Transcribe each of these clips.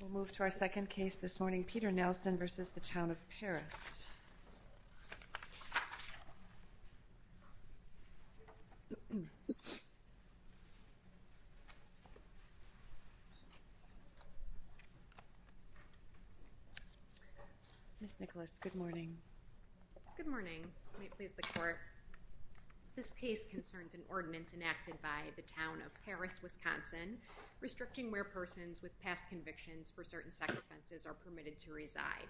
We'll move to our second case this morning, Peter Nelson v. Town of Paris. Ms. Nicholas, good morning. Good morning. May it please the Court. This case concerns an ordinance enacted by the Town of Paris, Wisconsin, restricting where persons with past convictions for certain sex offenses are permitted to reside.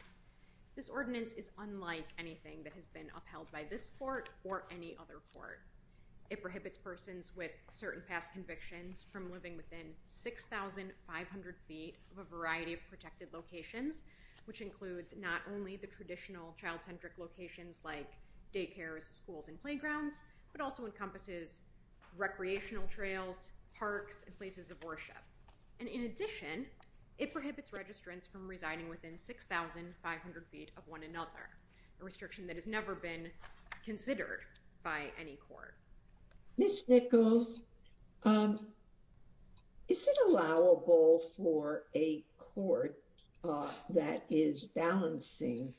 This ordinance is unlike anything that has been upheld by this Court or any other Court. It prohibits persons with certain past convictions from living within 6,500 feet of a variety of protected locations, which includes not only the traditional child-centric locations like daycares, schools, and playgrounds, but also encompasses recreational trails, parks, and places of worship. And in addition, it prohibits registrants from residing within 6,500 feet of one another, a restriction that has never been considered by any Court. Ms. Nicholas, is it allowable for a Court that is balancing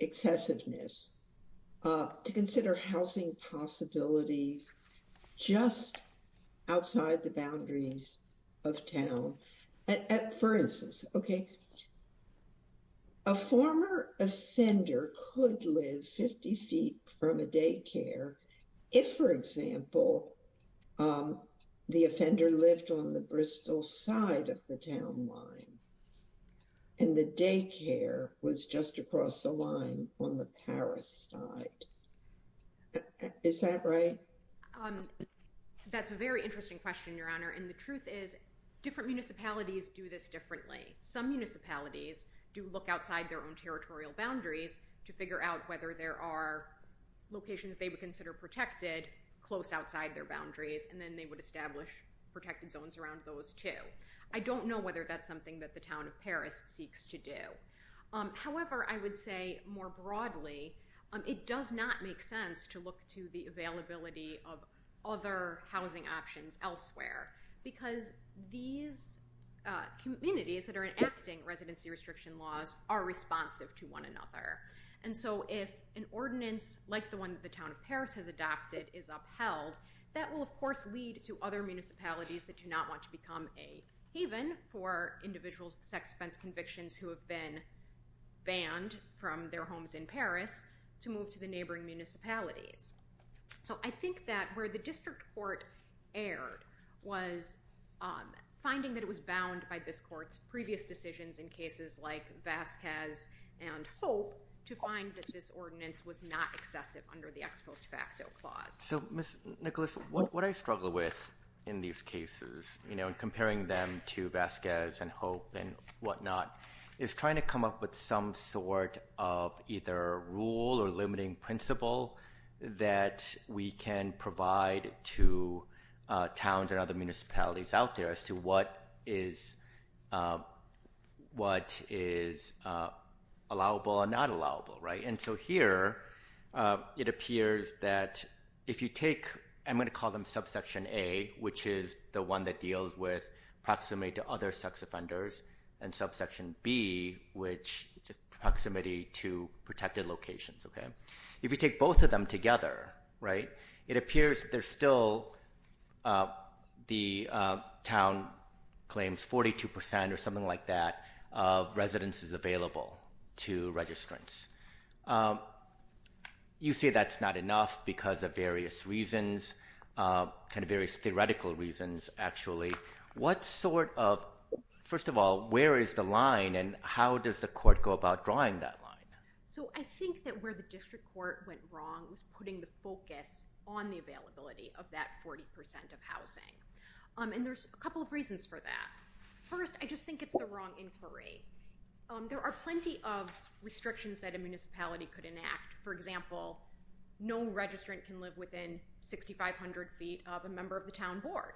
excessiveness to consider housing possibilities just outside the boundaries of town? For instance, okay, a former offender could live 50 feet from a daycare if, for example, the offender lived on the Bristol side of the town line and the daycare was just across the line on the Paris side. Is that right? I don't know whether that's something that the town of Paris seeks to do. However, I would say more broadly, it does not make sense to look to the availability of other housing options elsewhere. Because these communities that are enacting residency restriction laws are responsive to one another. And so if an ordinance like the one that the town of Paris has adopted is upheld, that will, of course, lead to other municipalities that do not want to become a haven for individual sex-offense convictions who have been banned from their homes in Paris to move to the neighboring municipalities. So I think that where the district court erred was finding that it was bound by this Court's previous decisions in cases like Vasquez and Hope to find that this ordinance was not excessive under the ex post facto clause. So, Ms. Nicholas, what I struggle with in these cases, you know, in comparing them to Vasquez and Hope and whatnot, is trying to come up with some sort of either rule or limiting principle that we can provide to towns and other municipalities out there as to what is allowable and not allowable. And so here it appears that if you take, I'm going to call them subsection A, which is the one that deals with proximity to other sex offenders, and subsection B, which is proximity to protected locations. If you take both of them together, it appears there's still, the town claims 42 percent or something like that of residences available to registrants. You say that's not enough because of various reasons, kind of various theoretical reasons, actually. What sort of, first of all, where is the line and how does the court go about drawing that line? So I think that where the district court went wrong was putting the focus on the availability of that 40 percent of housing. And there's a couple of reasons for that. First, I just think it's the wrong inquiry. There are plenty of restrictions that a municipality could enact. For example, no registrant can live within 6,500 feet of a member of the town board.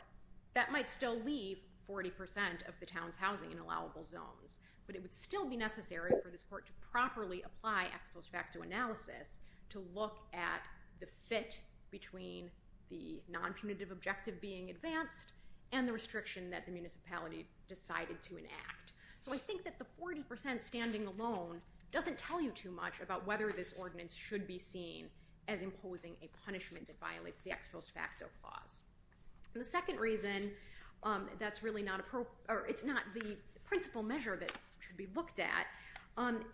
That might still leave 40 percent of the town's housing in allowable zones, but it would still be necessary for this court to properly apply ex post facto analysis to look at the fit between the non-punitive objective being advanced and the restriction that the municipality decided to enact. So I think that the 40 percent standing alone doesn't tell you too much about whether this ordinance should be seen as imposing a punishment that violates the ex post facto clause. And the second reason that's really not appropriate, or it's not the principal measure that should be looked at,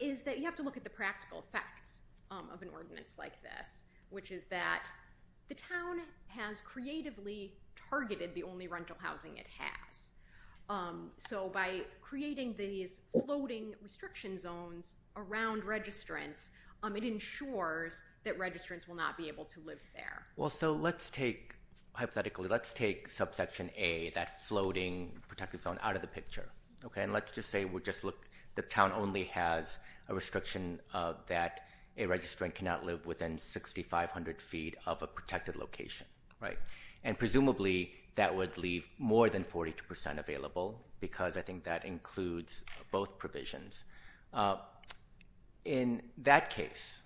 is that you have to look at the practical effects of an ordinance like this, which is that the town has creatively targeted the only rental housing it has. So by creating these floating restriction zones around registrants, it ensures that registrants will not be able to live there. Well, so let's take hypothetically, let's take subsection A, that floating protected zone, out of the picture. Let's just say the town only has a restriction that a registrant cannot live within 6,500 feet of a protected location. Right. And presumably that would leave more than 42 percent available, because I think that includes both provisions. In that case,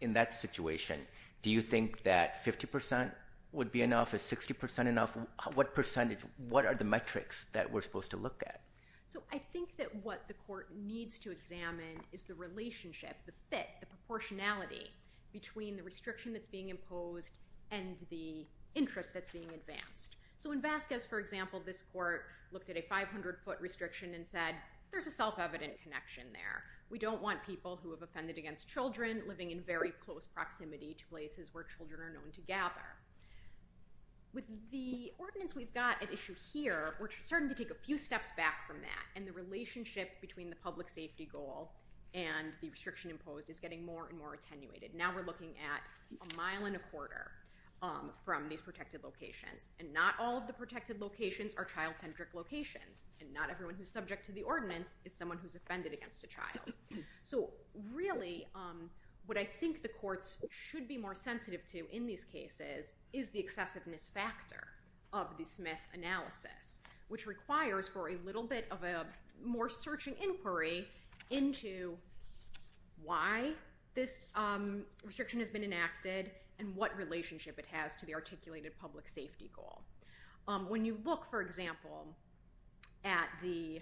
in that situation, do you think that 50 percent would be enough? Is 60 percent enough? What percentage, what are the metrics that we're supposed to look at? So I think that what the court needs to examine is the relationship, the fit, the proportionality between the restriction that's being imposed and the interest that's being advanced. So in Vasquez, for example, this court looked at a 500-foot restriction and said there's a self-evident connection there. We don't want people who have offended against children living in very close proximity to places where children are known to gather. With the ordinance we've got at issue here, we're starting to take a few steps back from that, and the relationship between the public safety goal and the restriction imposed is getting more and more attenuated. Now we're looking at a mile and a quarter from these protected locations, and not all of the protected locations are child-centric locations, and not everyone who's subject to the ordinance is someone who's offended against a child. So really what I think the courts should be more sensitive to in these cases is the excessiveness factor of the Smith analysis, which requires for a little bit of a more searching inquiry into why this restriction has been enacted and what relationship it has to the articulated public safety goal. When you look, for example, at the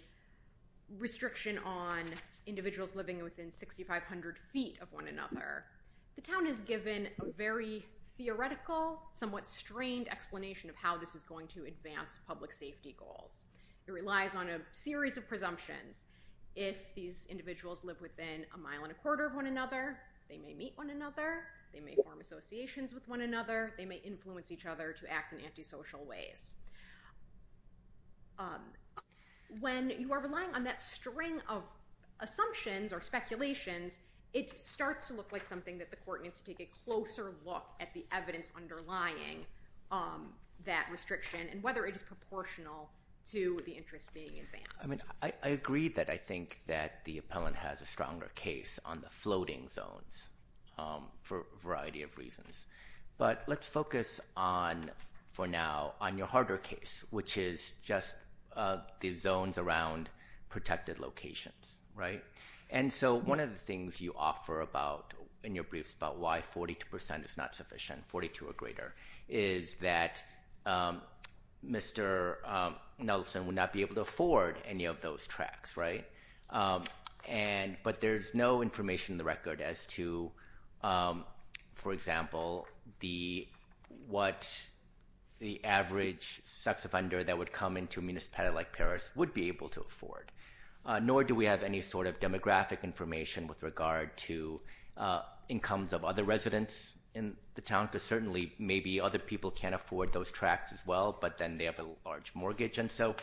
restriction on individuals living within 6,500 feet of one another, the town has given a very theoretical, somewhat strained explanation of how this is going to advance public safety goals. It relies on a series of presumptions. If these individuals live within a mile and a quarter of one another, they may meet one another, they may form associations with one another, they may influence each other to act in antisocial ways. When you are relying on that string of assumptions or speculations, it starts to look like something that the court needs to take a closer look at the evidence underlying that restriction and whether it is proportional to the interest being advanced. I agree that I think that the appellant has a stronger case on the floating zones for a variety of reasons. But let's focus, for now, on your harder case, which is just the zones around protected locations. One of the things you offer in your briefs about why 42% is not sufficient, 42 or greater, is that Mr. Nelson would not be able to afford any of those tracts, right? But there is no information in the record as to, for example, what the average sex offender that would come into a municipality like Paris would be able to afford. Nor do we have any sort of demographic information with regard to incomes of other residents in the town, because certainly maybe other people can't afford those tracts as well, but then they have a large mortgage. And so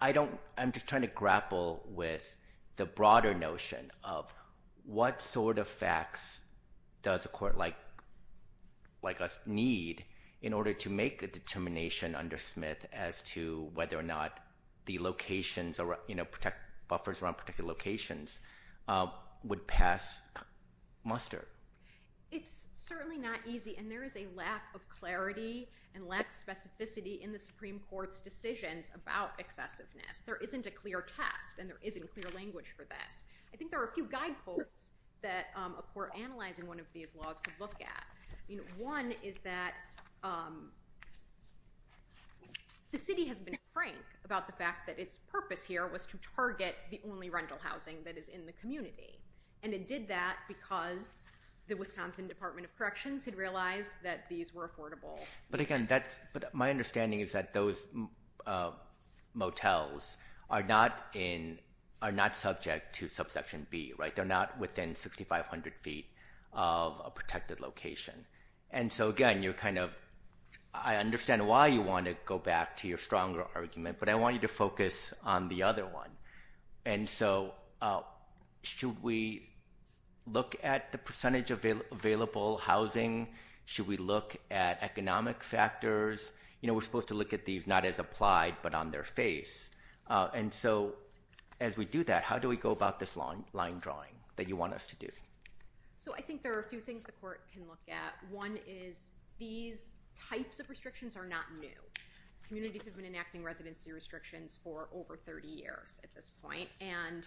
I'm just trying to grapple with the broader notion of what sort of facts does a court like us need in order to make a determination under Smith as to whether or not buffers around protected locations would pass muster. It's certainly not easy, and there is a lack of clarity and lack of specificity in the Supreme Court's decisions about excessiveness. There isn't a clear test, and there isn't clear language for this. I think there are a few guideposts that a court analyzing one of these laws could look at. One is that the city has been frank about the fact that its purpose here was to target the only rental housing that is in the community. And it did that because the Wisconsin Department of Corrections had realized that these were affordable. But, again, my understanding is that those motels are not subject to subsection B. They're not within 6,500 feet of a protected location. And so, again, I understand why you want to go back to your stronger argument, but I want you to focus on the other one. And so should we look at the percentage of available housing? Should we look at economic factors? You know, we're supposed to look at these not as applied but on their face. And so as we do that, how do we go about this line drawing that you want us to do? So I think there are a few things the court can look at. One is these types of restrictions are not new. Communities have been enacting residency restrictions for over 30 years at this point. And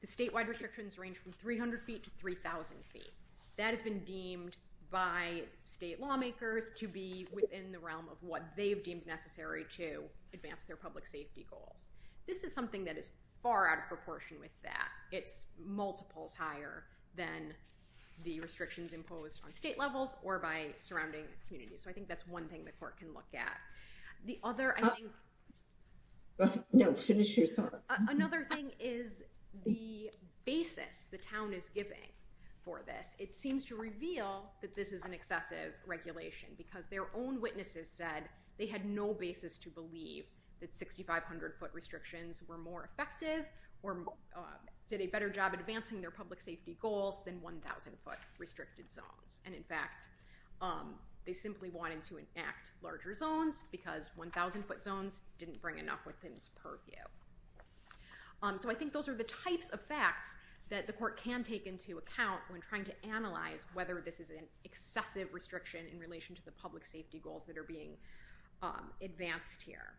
the statewide restrictions range from 300 feet to 3,000 feet. That has been deemed by state lawmakers to be within the realm of what they've deemed necessary to advance their public safety goals. This is something that is far out of proportion with that. It's multiples higher than the restrictions imposed on state levels or by surrounding communities. So I think that's one thing the court can look at. The other thing is the basis the town is giving for this. It seems to reveal that this is an excessive regulation because their own witnesses said they had no basis to believe that 6,500 foot restrictions were more effective or did a better job advancing their public safety goals than 1,000 foot restricted zones. And in fact, they simply wanted to enact larger zones because 1,000 foot zones didn't bring enough within its purview. So I think those are the types of facts that the court can take into account when trying to analyze whether this is an excessive restriction in relation to the public safety goals that are being advanced here.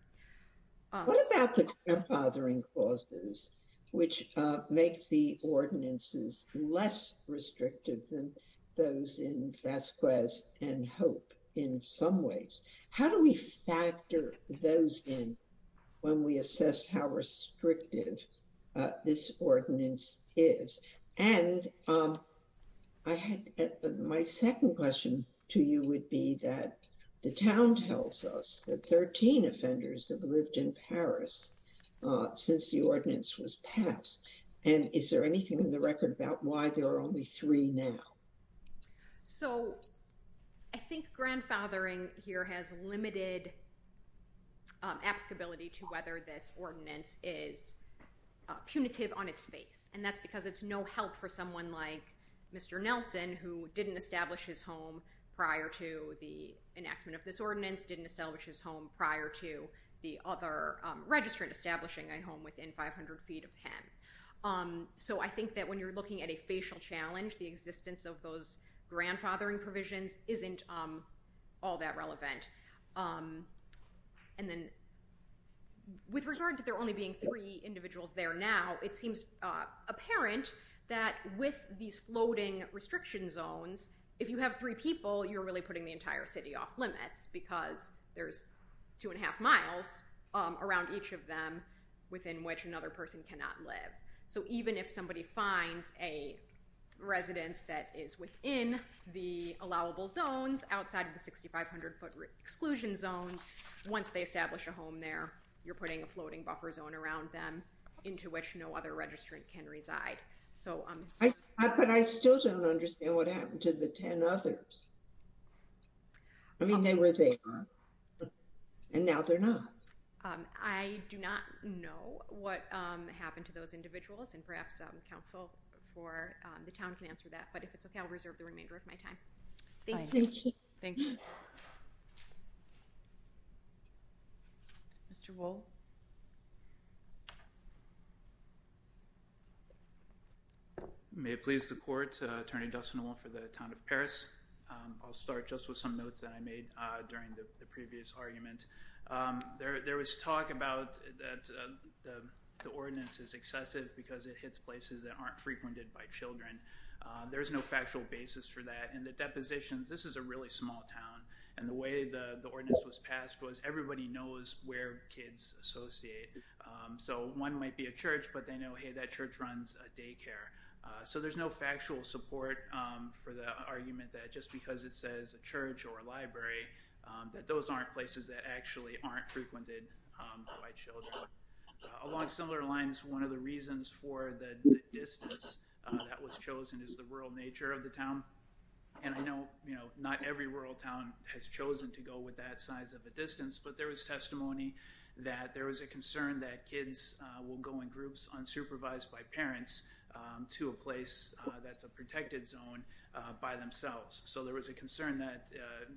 What about the grandfathering clauses which make the ordinances less restrictive than those in Vasquez and Hope in some ways? How do we factor those in when we assess how restrictive this ordinance is? And my second question to you would be that the town tells us that 13 offenders have lived in Paris since the ordinance was passed. And is there anything in the record about why there are only three now? So I think grandfathering here has limited applicability to whether this ordinance is punitive on its face. And that's because it's no help for someone like Mr. Nelson who didn't establish his home prior to the enactment of this ordinance, didn't establish his home prior to the other registrant establishing a home within 500 feet of him. So I think that when you're looking at a facial challenge, the existence of those grandfathering provisions isn't all that relevant. And then with regard to there only being three individuals there now, it seems apparent that with these floating restriction zones, if you have three people, you're really putting the entire city off limits because there's two and a half miles around each of them within which another person cannot live. So even if somebody finds a residence that is within the allowable zones outside of the 6,500-foot exclusion zones, once they establish a home there, you're putting a floating buffer zone around them into which no other registrant can reside. But I still don't understand what happened to the 10 others. I mean, they were there, and now they're not. I do not know what happened to those individuals, and perhaps counsel for the town can answer that. But if it's okay, I'll reserve the remainder of my time. Thank you. Thank you. Mr. Wolfe? May it please the court, Attorney Dustin Wolfe for the town of Paris. I'll start just with some notes that I made during the previous argument. There was talk about that the ordinance is excessive because it hits places that aren't frequented by children. There is no factual basis for that. In the depositions, this is a really small town, and the way the ordinance was passed was everybody knows where kids associate. So one might be a church, but they know, hey, that church runs a daycare. So there's no factual support for the argument that just because it says a church or a library, that those aren't places that actually aren't frequented by children. Along similar lines, one of the reasons for the distance that was chosen is the rural nature of the town. And I know not every rural town has chosen to go with that size of a distance, but there was testimony that there was a concern that kids will go in groups unsupervised by parents to a place that's a protected zone by themselves. So there was a concern that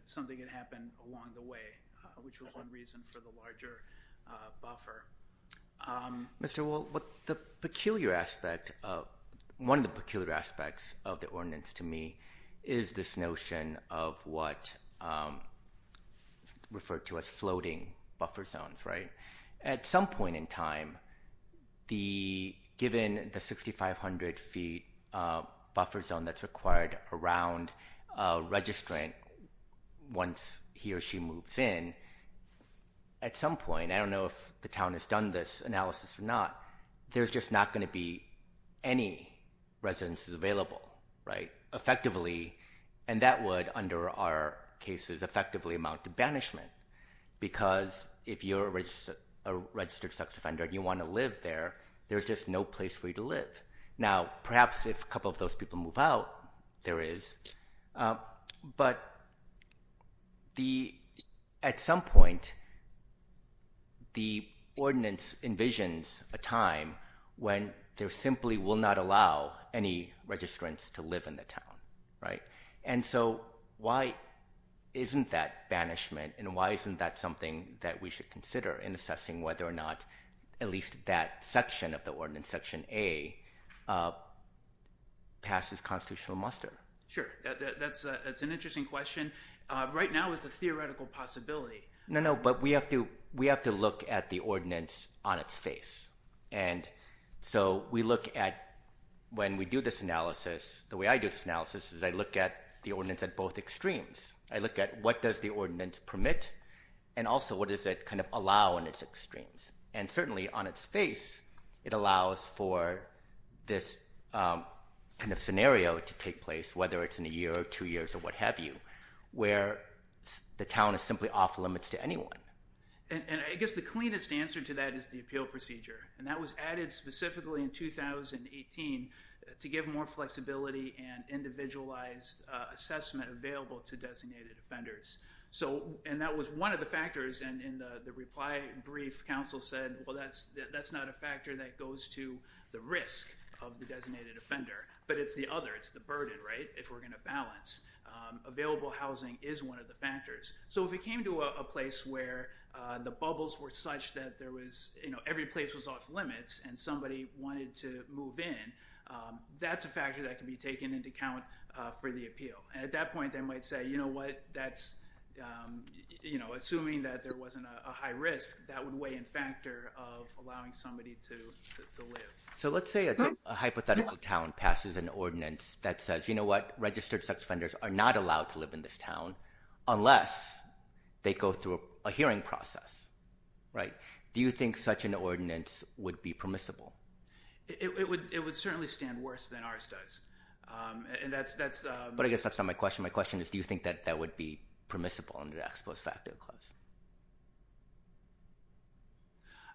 something could happen along the way, which was one reason for the larger buffer. Mr. Wolfe, one of the peculiar aspects of the ordinance to me is this notion of what is referred to as floating buffer zones. At some point in time, given the 6,500-feet buffer zone that's required around a registrant once he or she moves in, at some point, I don't know if the town has done this analysis or not, there's just not going to be any residences available effectively, and that would, under our cases, effectively amount to banishment because if you're a registered sex offender and you want to live there, there's just no place for you to live. Now, perhaps if a couple of those people move out, there is, but at some point the ordinance envisions a time when they simply will not allow any registrants to live in the town. And so why isn't that banishment and why isn't that something that we should consider in assessing whether or not at least that section of the ordinance, Section A, passes constitutional muster? Sure. That's an interesting question. Right now it's a theoretical possibility. No, no, but we have to look at the ordinance on its face. And so we look at when we do this analysis, the way I do this analysis is I look at the ordinance at both extremes. I look at what does the ordinance permit and also what does it kind of allow in its extremes. And certainly on its face, it allows for this kind of scenario to take place, whether it's in a year or two years or what have you, where the town is simply off limits to anyone. And I guess the cleanest answer to that is the appeal procedure. And that was added specifically in 2018 to give more flexibility and individualized assessment available to designated offenders. And that was one of the factors in the reply brief. Council said, well, that's not a factor that goes to the risk of the designated offender, but it's the other. It's the burden, right, if we're going to balance. Available housing is one of the factors. So if it came to a place where the bubbles were such that there was, you know, every place was off limits and somebody wanted to move in, that's a factor that can be taken into account for the appeal. And at that point, they might say, you know what, that's, you know, assuming that there wasn't a high risk, that would weigh in factor of allowing somebody to live. So let's say a hypothetical town passes an ordinance that says, you know what, registered sex offenders are not allowed to live in this town unless they go through a hearing process, right. Do you think such an ordinance would be permissible? It would certainly stand worse than ours does. But I guess that's not my question. My question is do you think that that would be permissible under the ex post facto clause?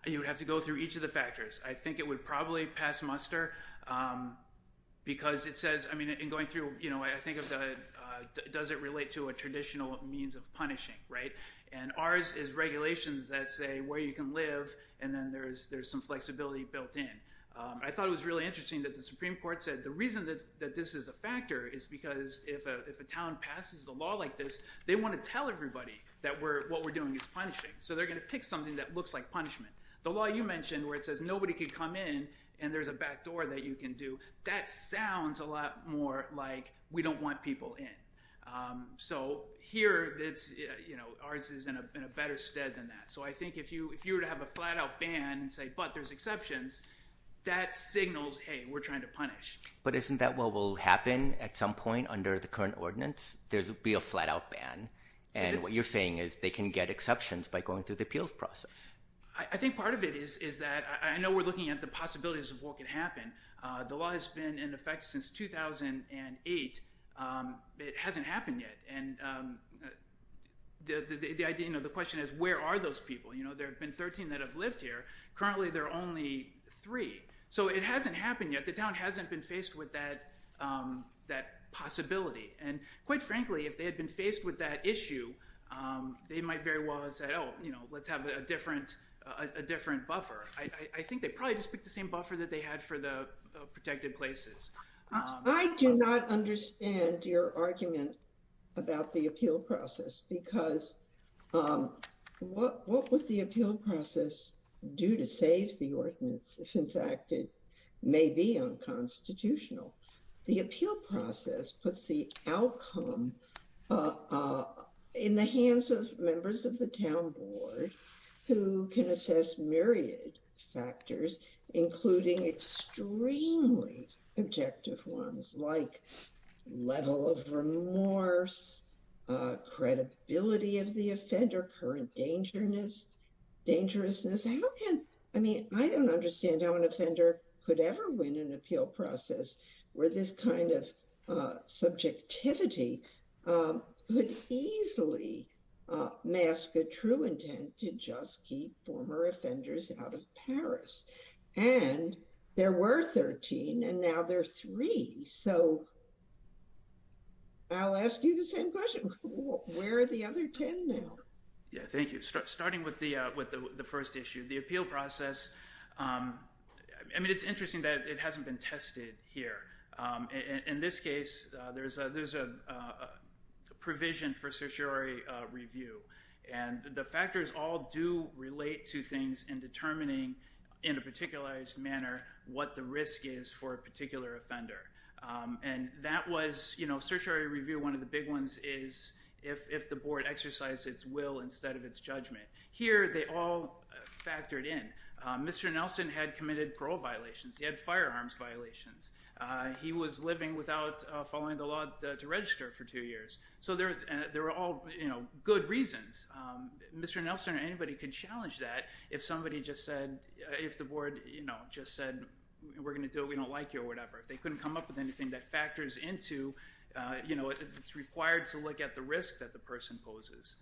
You would have to go through each of the factors. I think it would probably pass muster because it says, I mean, it doesn't relate to a traditional means of punishing, right. And ours is regulations that say where you can live and then there's some flexibility built in. I thought it was really interesting that the Supreme Court said the reason that this is a factor is because if a town passes a law like this, they want to tell everybody that what we're doing is punishing. So they're going to pick something that looks like punishment. The law you mentioned where it says nobody can come in and there's a back door that you can do, that sounds a lot more like we don't want people in. So here ours is in a better stead than that. So I think if you were to have a flat-out ban and say, but there's exceptions, that signals, hey, we're trying to punish. But isn't that what will happen at some point under the current ordinance? There will be a flat-out ban. And what you're saying is they can get exceptions by going through the appeals process. I think part of it is that I know we're looking at the possibilities of what could happen. The law has been in effect since 2008. It hasn't happened yet. And the question is where are those people? There have been 13 that have lived here. Currently there are only three. So it hasn't happened yet. The town hasn't been faced with that possibility. And quite frankly, if they had been faced with that issue, they might very well have said, oh, let's have a different buffer. I think they probably just picked the same buffer that they had for the protected places. I do not understand your argument about the appeal process. Because what would the appeal process do to save the ordinance if, in fact, it may be unconstitutional? The appeal process puts the outcome in the hands of members of the town board who can assess myriad factors, including extremely objective ones, like level of remorse, credibility of the offender, current dangerousness. I don't understand how an offender could ever win an appeal process where this kind of subjectivity could easily mask a true intent to just keep former offenders out of Paris. And there were 13, and now there are three. So I'll ask you the same question. Where are the other 10 now? Yeah, thank you. Starting with the first issue, the appeal process, I mean, it's interesting that it hasn't been tested here. In this case, there's a provision for certiorari review. And the factors all do relate to things in determining, in a particularized manner, what the risk is for a particular offender. And that was, you know, certiorari review, one of the big ones, is if the board exercised its will instead of its judgment. Here, they all factored in. Mr. Nelson had committed parole violations. He had firearms violations. He was living without following the law to register for two years. So there were all, you know, good reasons. Mr. Nelson or anybody could challenge that if somebody just said, if the board, you know, just said, we're going to do it, we don't like you or whatever. They couldn't come up with anything that factors into, you know, it's required to look at the risk that the person poses.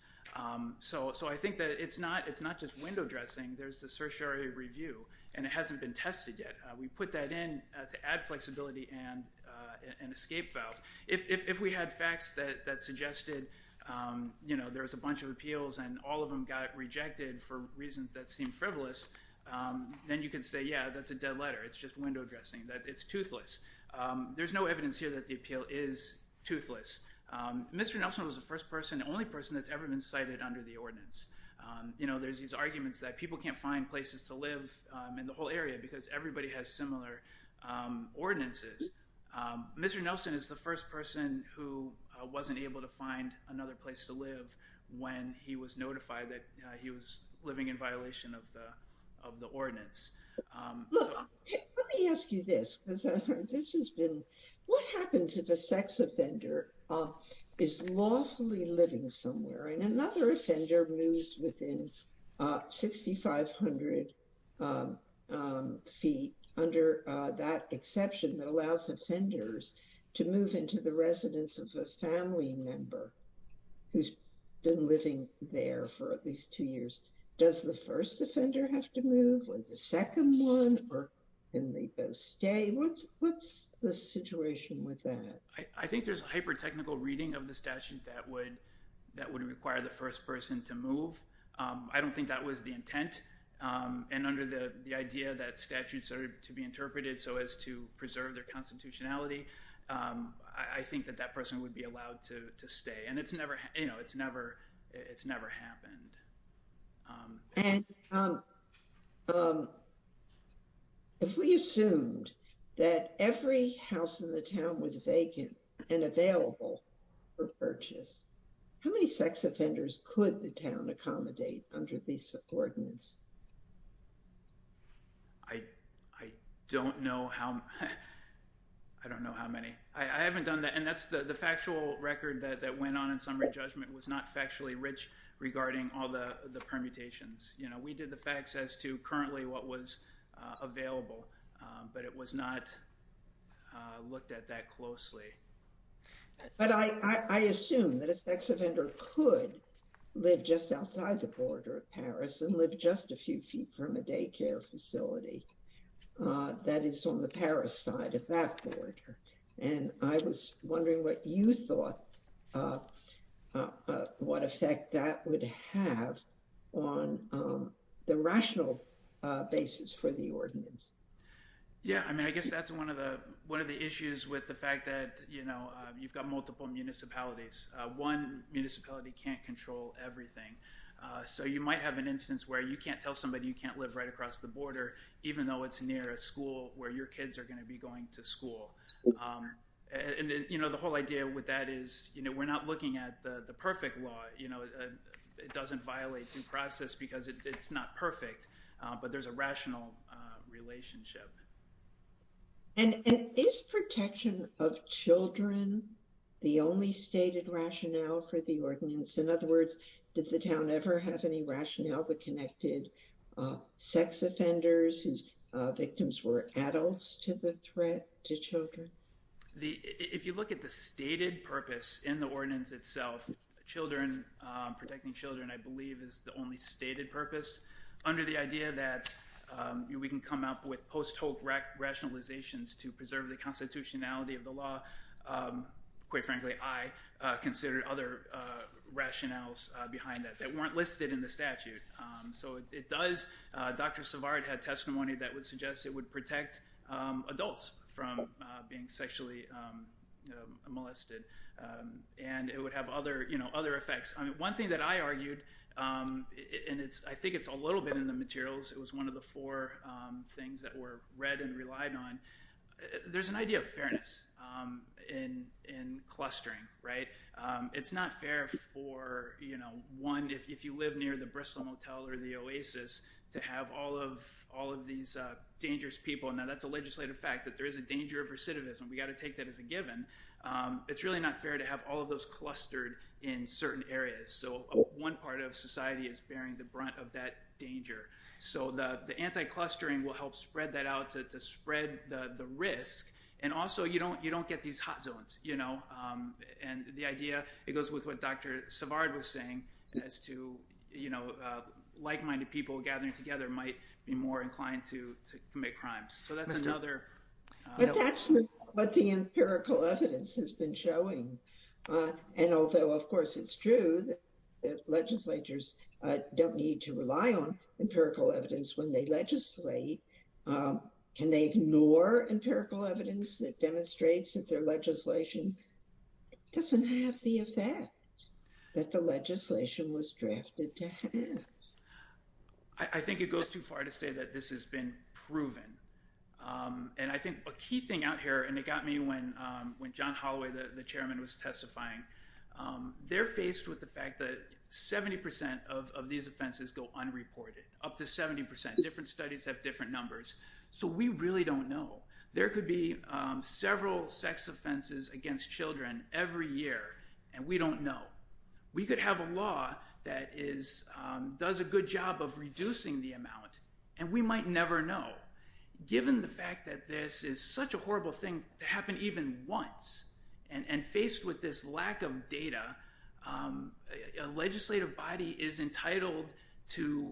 So I think that it's not just window dressing. There's the certiorari review. And it hasn't been tested yet. We put that in to add flexibility and escape valve. If we had facts that suggested, you know, there was a bunch of appeals and all of them got rejected for reasons that seemed frivolous, then you could say, yeah, that's a dead letter. It's just window dressing. It's toothless. There's no evidence here that the appeal is toothless. Mr. Nelson was the first person, the only person that's ever been cited under the ordinance. You know, there's these arguments that people can't find places to live in the whole area because everybody has similar ordinances. Mr. Nelson is the first person who wasn't able to find another place to live when he was notified that he was living in violation of the, of the ordinance. Let me ask you this, because this has been, what happens if a sex offender is lawfully living somewhere and another offender moves within 6,500 feet under that exception that allows offenders to move into the residence of a family member who's been living there for at least two years. Does the first offender have to move or the second one, or can they go stay? What's the situation with that? I think there's a hyper-technical reading of the statute that would, that would require the first person to move. I don't think that was the intent. And under the idea that statute started to be interpreted so as to preserve their constitutionality. I think that that person would be allowed to stay and it's never, you know, it's never, it's never happened. And if we assumed that every house in the town was vacant and available for purchase, how many sex offenders could the town accommodate under these ordinances? I don't know how, I don't know how many. I haven't done that. And that's the factual record that went on in summary judgment was not all the permutations. You know, we did the facts as to currently what was available but it was not looked at that closely. But I assume that a sex offender could live just outside the border of Paris and live just a few feet from a daycare facility that is on the Paris side of that border. And I was wondering what you thought, what effect that would have on the rational basis for the ordinance. Yeah. I mean, I guess that's one of the, one of the issues with the fact that, you know, you've got multiple municipalities, one municipality can't control everything. So you might have an instance where you can't tell somebody you can't live right across the border, even though it's near a school where your kids are going to be going to school. And then, you know, the whole idea with that is, you know, we're not looking at the perfect law, you know, it doesn't violate due process because it's not perfect, but there's a rational relationship. And is protection of children, the only stated rationale for the ordinance. In other words, did the town ever have any rationale that connected sex offenders whose victims were adults to the threat to children? If you look at the stated purpose in the ordinance itself, children protecting children, I believe is the only stated purpose under the idea that we can come up with post-hoc rationalizations to preserve the constitutionality of the law. Quite frankly, I considered other rationales behind that that weren't listed in the statute. So it does Dr. Savard had testimony that would suggest it would protect adults from being sexually molested and it would have other, you know, other effects. I mean, one thing that I argued, and it's, I think it's a little bit in the materials. It was one of the four things that were read and relied on. There's an idea of fairness in, in clustering, right? It's not fair for, you know, one, if you live near the Bristol motel or the Oasis to have all of, all of these dangerous people. And now that's a legislative fact that there is a danger of recidivism. We got to take that as a given. It's really not fair to have all of those clustered in certain areas. So one part of society is bearing the brunt of that danger. So the, the anti-clustering will help spread that out to, to spread the risk. And also you don't, you don't get these hot zones, you know, and the idea, it goes with what Dr. Savard was saying as to, you know, like-minded people gathering together might be more inclined to commit crimes. So that's another. That's actually what the empirical evidence has been showing. And although of course it's true that legislatures don't need to rely on empirical evidence when they legislate, can they ignore empirical evidence that demonstrates that their legislation doesn't have the effect that the legislation was drafted to have? I think it goes too far to say that this has been proven. And I think a key thing out here, and it got me when, when John Holloway, the chairman was testifying, they're faced with the fact that 70% of these offenses go unreported up to 70%. Different studies have different numbers. So we really don't know. There could be several sex offenses against children every year. And we don't know. We could have a law that is does a good job of reducing the amount. And we might never know given the fact that this is such a horrible thing to And faced with this lack of data legislative body is entitled to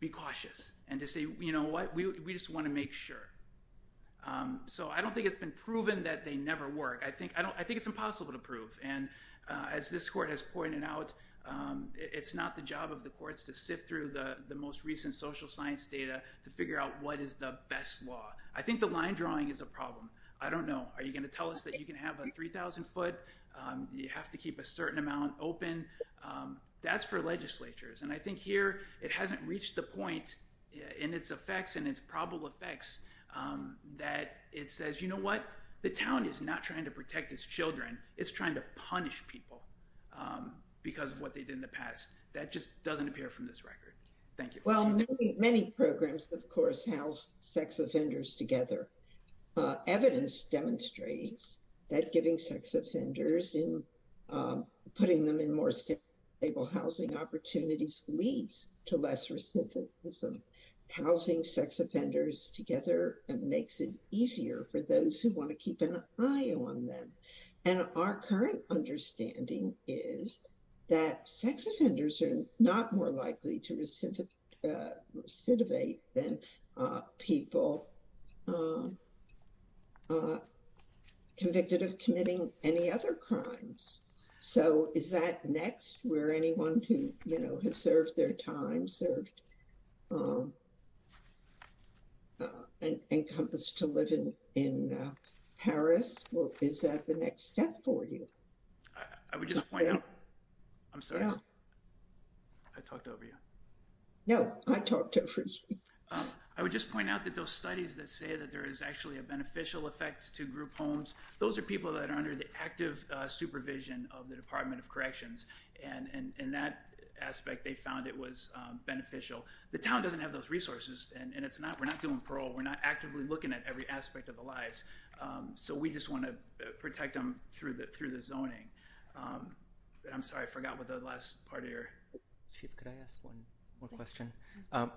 be cautious and to say, you know what, we just want to make sure. So I don't think it's been proven that they never work. I think, I don't, I think it's impossible to prove. And as this court has pointed out, it's not the job of the courts to sift through the most recent social science data to figure out what is the best law. I think the line drawing is a problem. I don't know. Are you going to tell us that you can have a 3000 foot? You have to keep a certain amount open. That's for legislatures. And I think here it hasn't reached the point in its effects and its probable effects that it says, you know what the town is not trying to protect its children. It's trying to punish people because of what they did in the past. That just doesn't appear from this record. Thank you. Well, many programs, of course, house sex offenders together. Evidence demonstrates that giving sex offenders in putting them in more stable housing opportunities leads to less recidivism. Housing sex offenders together and makes it easier for those who want to keep an eye on them. And our current understanding is that sex offenders are not more likely to be convicted of committing any other crimes. So is that next where anyone who, you know, has served their time served and encompassed to live in, in Paris? Well, is that the next step for you? I would just point out, I'm sorry. I talked over you. I would just point out that those studies that say that there is actually a beneficial effect to group homes. Those are people that are under the active supervision of the department of corrections. And in that aspect, they found it was beneficial. The town doesn't have those resources and it's not, we're not doing parole. We're not actively looking at every aspect of the lies. So we just want to protect them through the, through the zoning. I'm sorry. I forgot what the last part of your question. I'm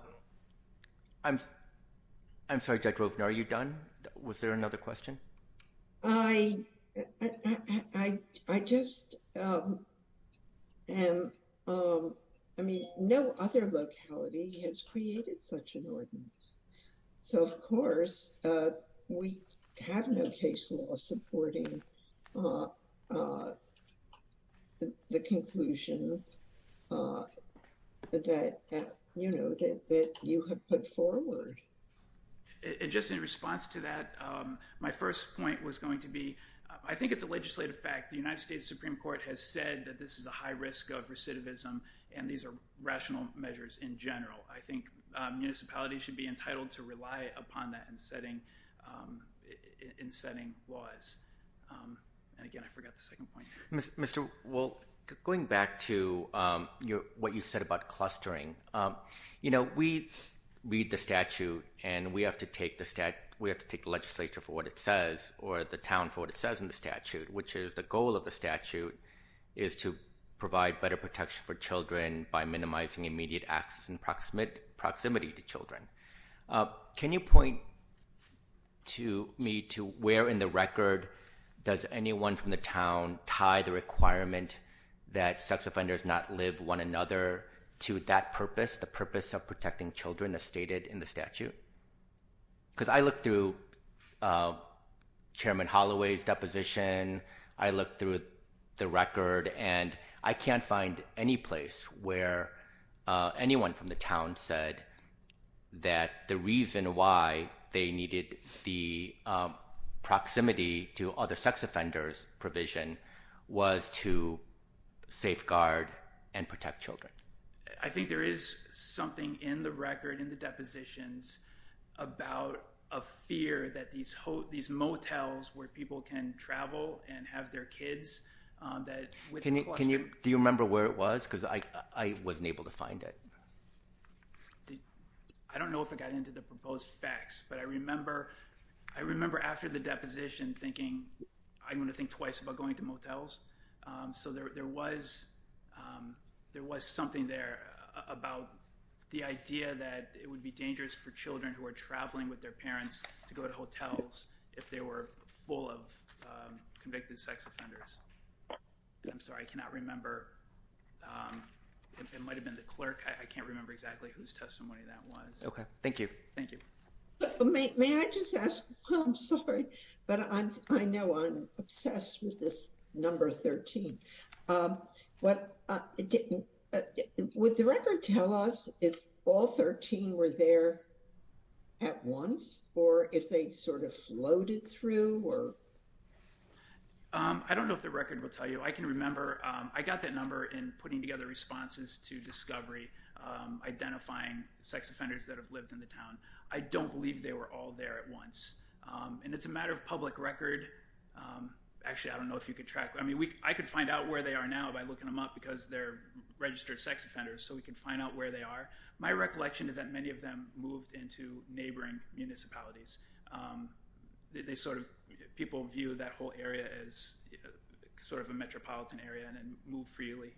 sorry. Are you done? Was there another question? I, I, I just am. I mean, no other locality has created such an ordinance. So of course we have no case law supporting the conclusion that, you know, that you have put forward. And just in response to that, my first point was going to be, I think it's a legislative fact. The United States Supreme court has said that this is a high risk of recidivism and these are rational measures in general. I think municipalities should be entitled to rely upon that and setting in place. And again, I forgot the second point, Mr. Well, going back to your, what you said about clustering, you know, we read the statute and we have to take the stat, we have to take the legislature for what it says or the town for what it says in the statute, which is the goal of the statute is to provide better protection for children by minimizing immediate access and proximate proximity to children. Can you point to me, to where in the record does anyone from the town tie the requirement that sex offenders not live one another to that purpose, the purpose of protecting children as stated in the statute? Cause I looked through chairman Holloway's deposition. I looked through the record and I can't find any place where anyone from the town said that the reason why they needed the, the proximity to other sex offenders provision was to safeguard and protect children. I think there is something in the record in the depositions about a fear that these hotels, these motels where people can travel and have their kids that can you, can you, do you remember where it was? Cause I, I wasn't able to find it. I don't know if it got into the proposed facts, but I remember, I remember after the deposition thinking, I'm going to think twice about going to motels. So there, there was, there was something there about the idea that it would be dangerous for children who are traveling with their parents to go to hotels if they were full of convicted sex offenders. I'm sorry. I cannot remember. It might've been the clerk. I can't remember exactly whose testimony that was. Okay. Thank you. Thank you. May I just ask, I'm sorry, but I know I'm obsessed with this number 13. Would the record tell us if all 13 were there at once or if they sort of floated through or? I don't know if the record will tell you. I can remember, I got that number in putting together responses to discovery, identifying sex offenders that have lived in the town. I don't believe they were all there at once. And it's a matter of public record. Actually, I don't know if you could track, I mean, we, I could find out where they are now by looking them up because they're registered sex offenders. So we can find out where they are. My recollection is that many of them moved into neighboring municipalities. They sort of, people view that whole area as sort of a metropolitan area and move freely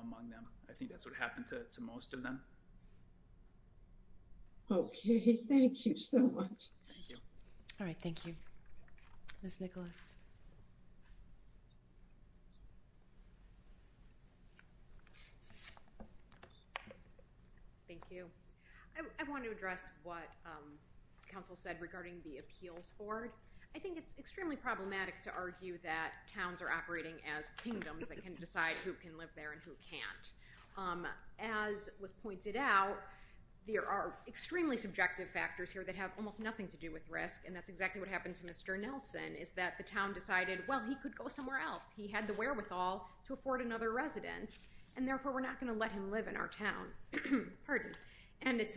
among them. I think that's what happened to most of them. Okay. Thank you so much. Thank you. All right. Thank you. Ms. Nicholas. Thank you. I want to address what council said regarding the appeals board. I think it's extremely problematic to argue that towns are operating as kingdoms that can decide who can live there and who can't. As was pointed out, there are extremely subjective factors here that have almost nothing to do with risk. And that's exactly what happened to Mr. Nelson is that the town decided, well, he could go somewhere else. He had the wherewithal to afford another residence and therefore we're not going to let him live in our town. Pardon. And it's,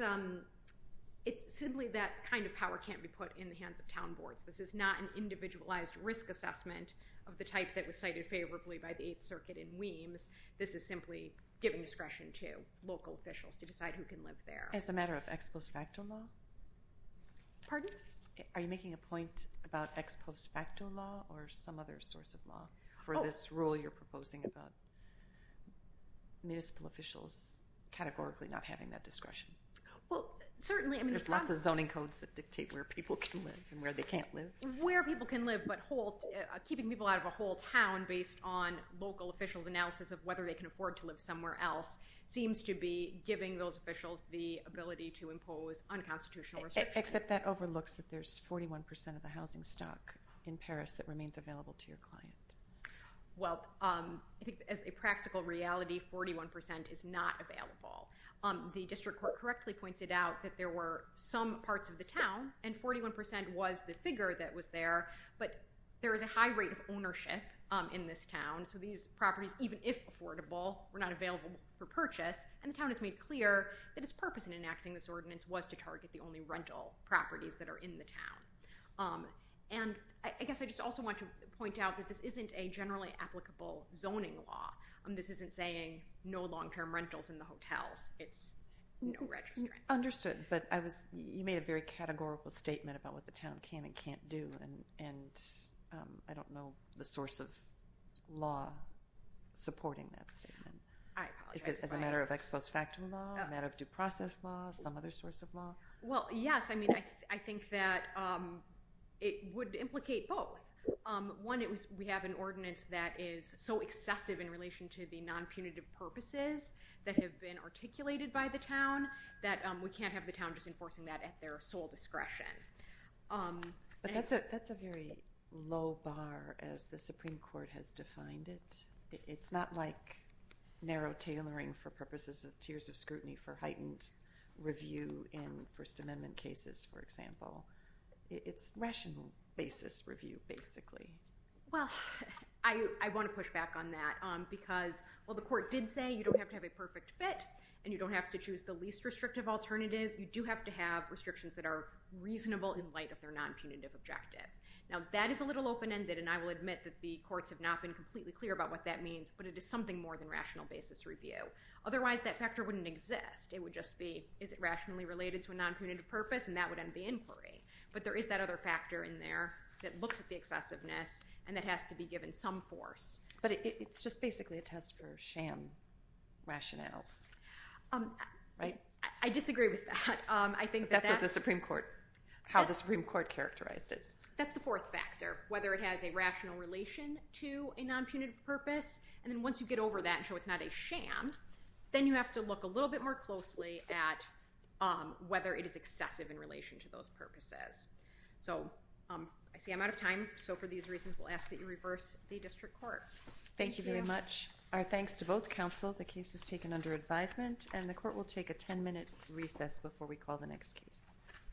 it's simply that kind of power can't be put in the hands of town boards. This is not an individualized risk assessment of the type that was cited favorably by the eighth circuit in weems. This is simply giving discretion to local officials to decide who can live there as a matter of ex post facto law. Pardon? Are you making a point about ex post facto law or some other source of law for this rule you're proposing about municipal officials categorically not having that discretion? Well, certainly, I mean there's lots of zoning codes that dictate where people can live and where they can't live where people can live, but Holt keeping people out of a whole town based on local officials analysis of whether they can afford to live somewhere else seems to be giving those officials the ability to impose unconstitutional except that overlooks that there's 41% of the housing stock in Paris that remains available to your client. Well, um, I think as a practical reality, 41% is not available. Um, the district court correctly pointed out that there were some parts of the town and 41% was the figure that was there, but there is a high rate of ownership in this town. So these properties, even if affordable were not available for purchase and the town has made clear that its purpose in enacting this ordinance was to target the only rental properties that are in the town. Um, and I guess I just also want to point out that this isn't a generally applicable zoning law. Um, this isn't saying no longterm rentals in the hotels, no registrants. Understood. But I was, you made a very categorical statement about what the town can and can't do. And, and, um, I don't know the source of law supporting that statement as a matter of ex post facto law, a matter of due process law, some other source of law. Well, yes. I mean, I, I think that, um, it would implicate both. Um, one it was, we have an ordinance that is so excessive in relation to the non punitive purposes that have been articulated by the town that, um, we can't have the town just enforcing that at their sole discretion. Um, but that's a, that's a very low bar as the Supreme court has defined it. It's not like narrow tailoring for purposes of tiers of scrutiny for heightened review in first amendment cases. For example, it's rational basis review basically. Well, I, I want to push back on that. Um, because while the court did say, you don't have to have a perfect fit and you don't have to choose the least restrictive alternative. You do have to have restrictions that are reasonable in light of their non punitive objective. Now that is a little open ended. And I will admit that the courts have not been completely clear about what that means, but it is something more than rational basis review. Otherwise that factor wouldn't exist. It would just be, is it rationally related to a non punitive purpose? And that would end the inquiry. But there is that other factor in there that looks at the excessiveness and that has to be given some force, but it's just basically a test for sham rationales. Um, right. I disagree with that. Um, I think that's what the Supreme court, how the Supreme court characterized it. That's the fourth factor, whether it has a rational relation to a non punitive purpose. And then once you get over that and show it's not a sham, then you have to look a little bit more closely at, um, whether it is excessive in relation to those purposes. So, um, I see I'm out of time. So for these reasons, we'll ask that you reverse the district court. Thank you very much. Our thanks to both counsel. The case has taken under advisement and the court will take a 10 minute recess before we call the next case.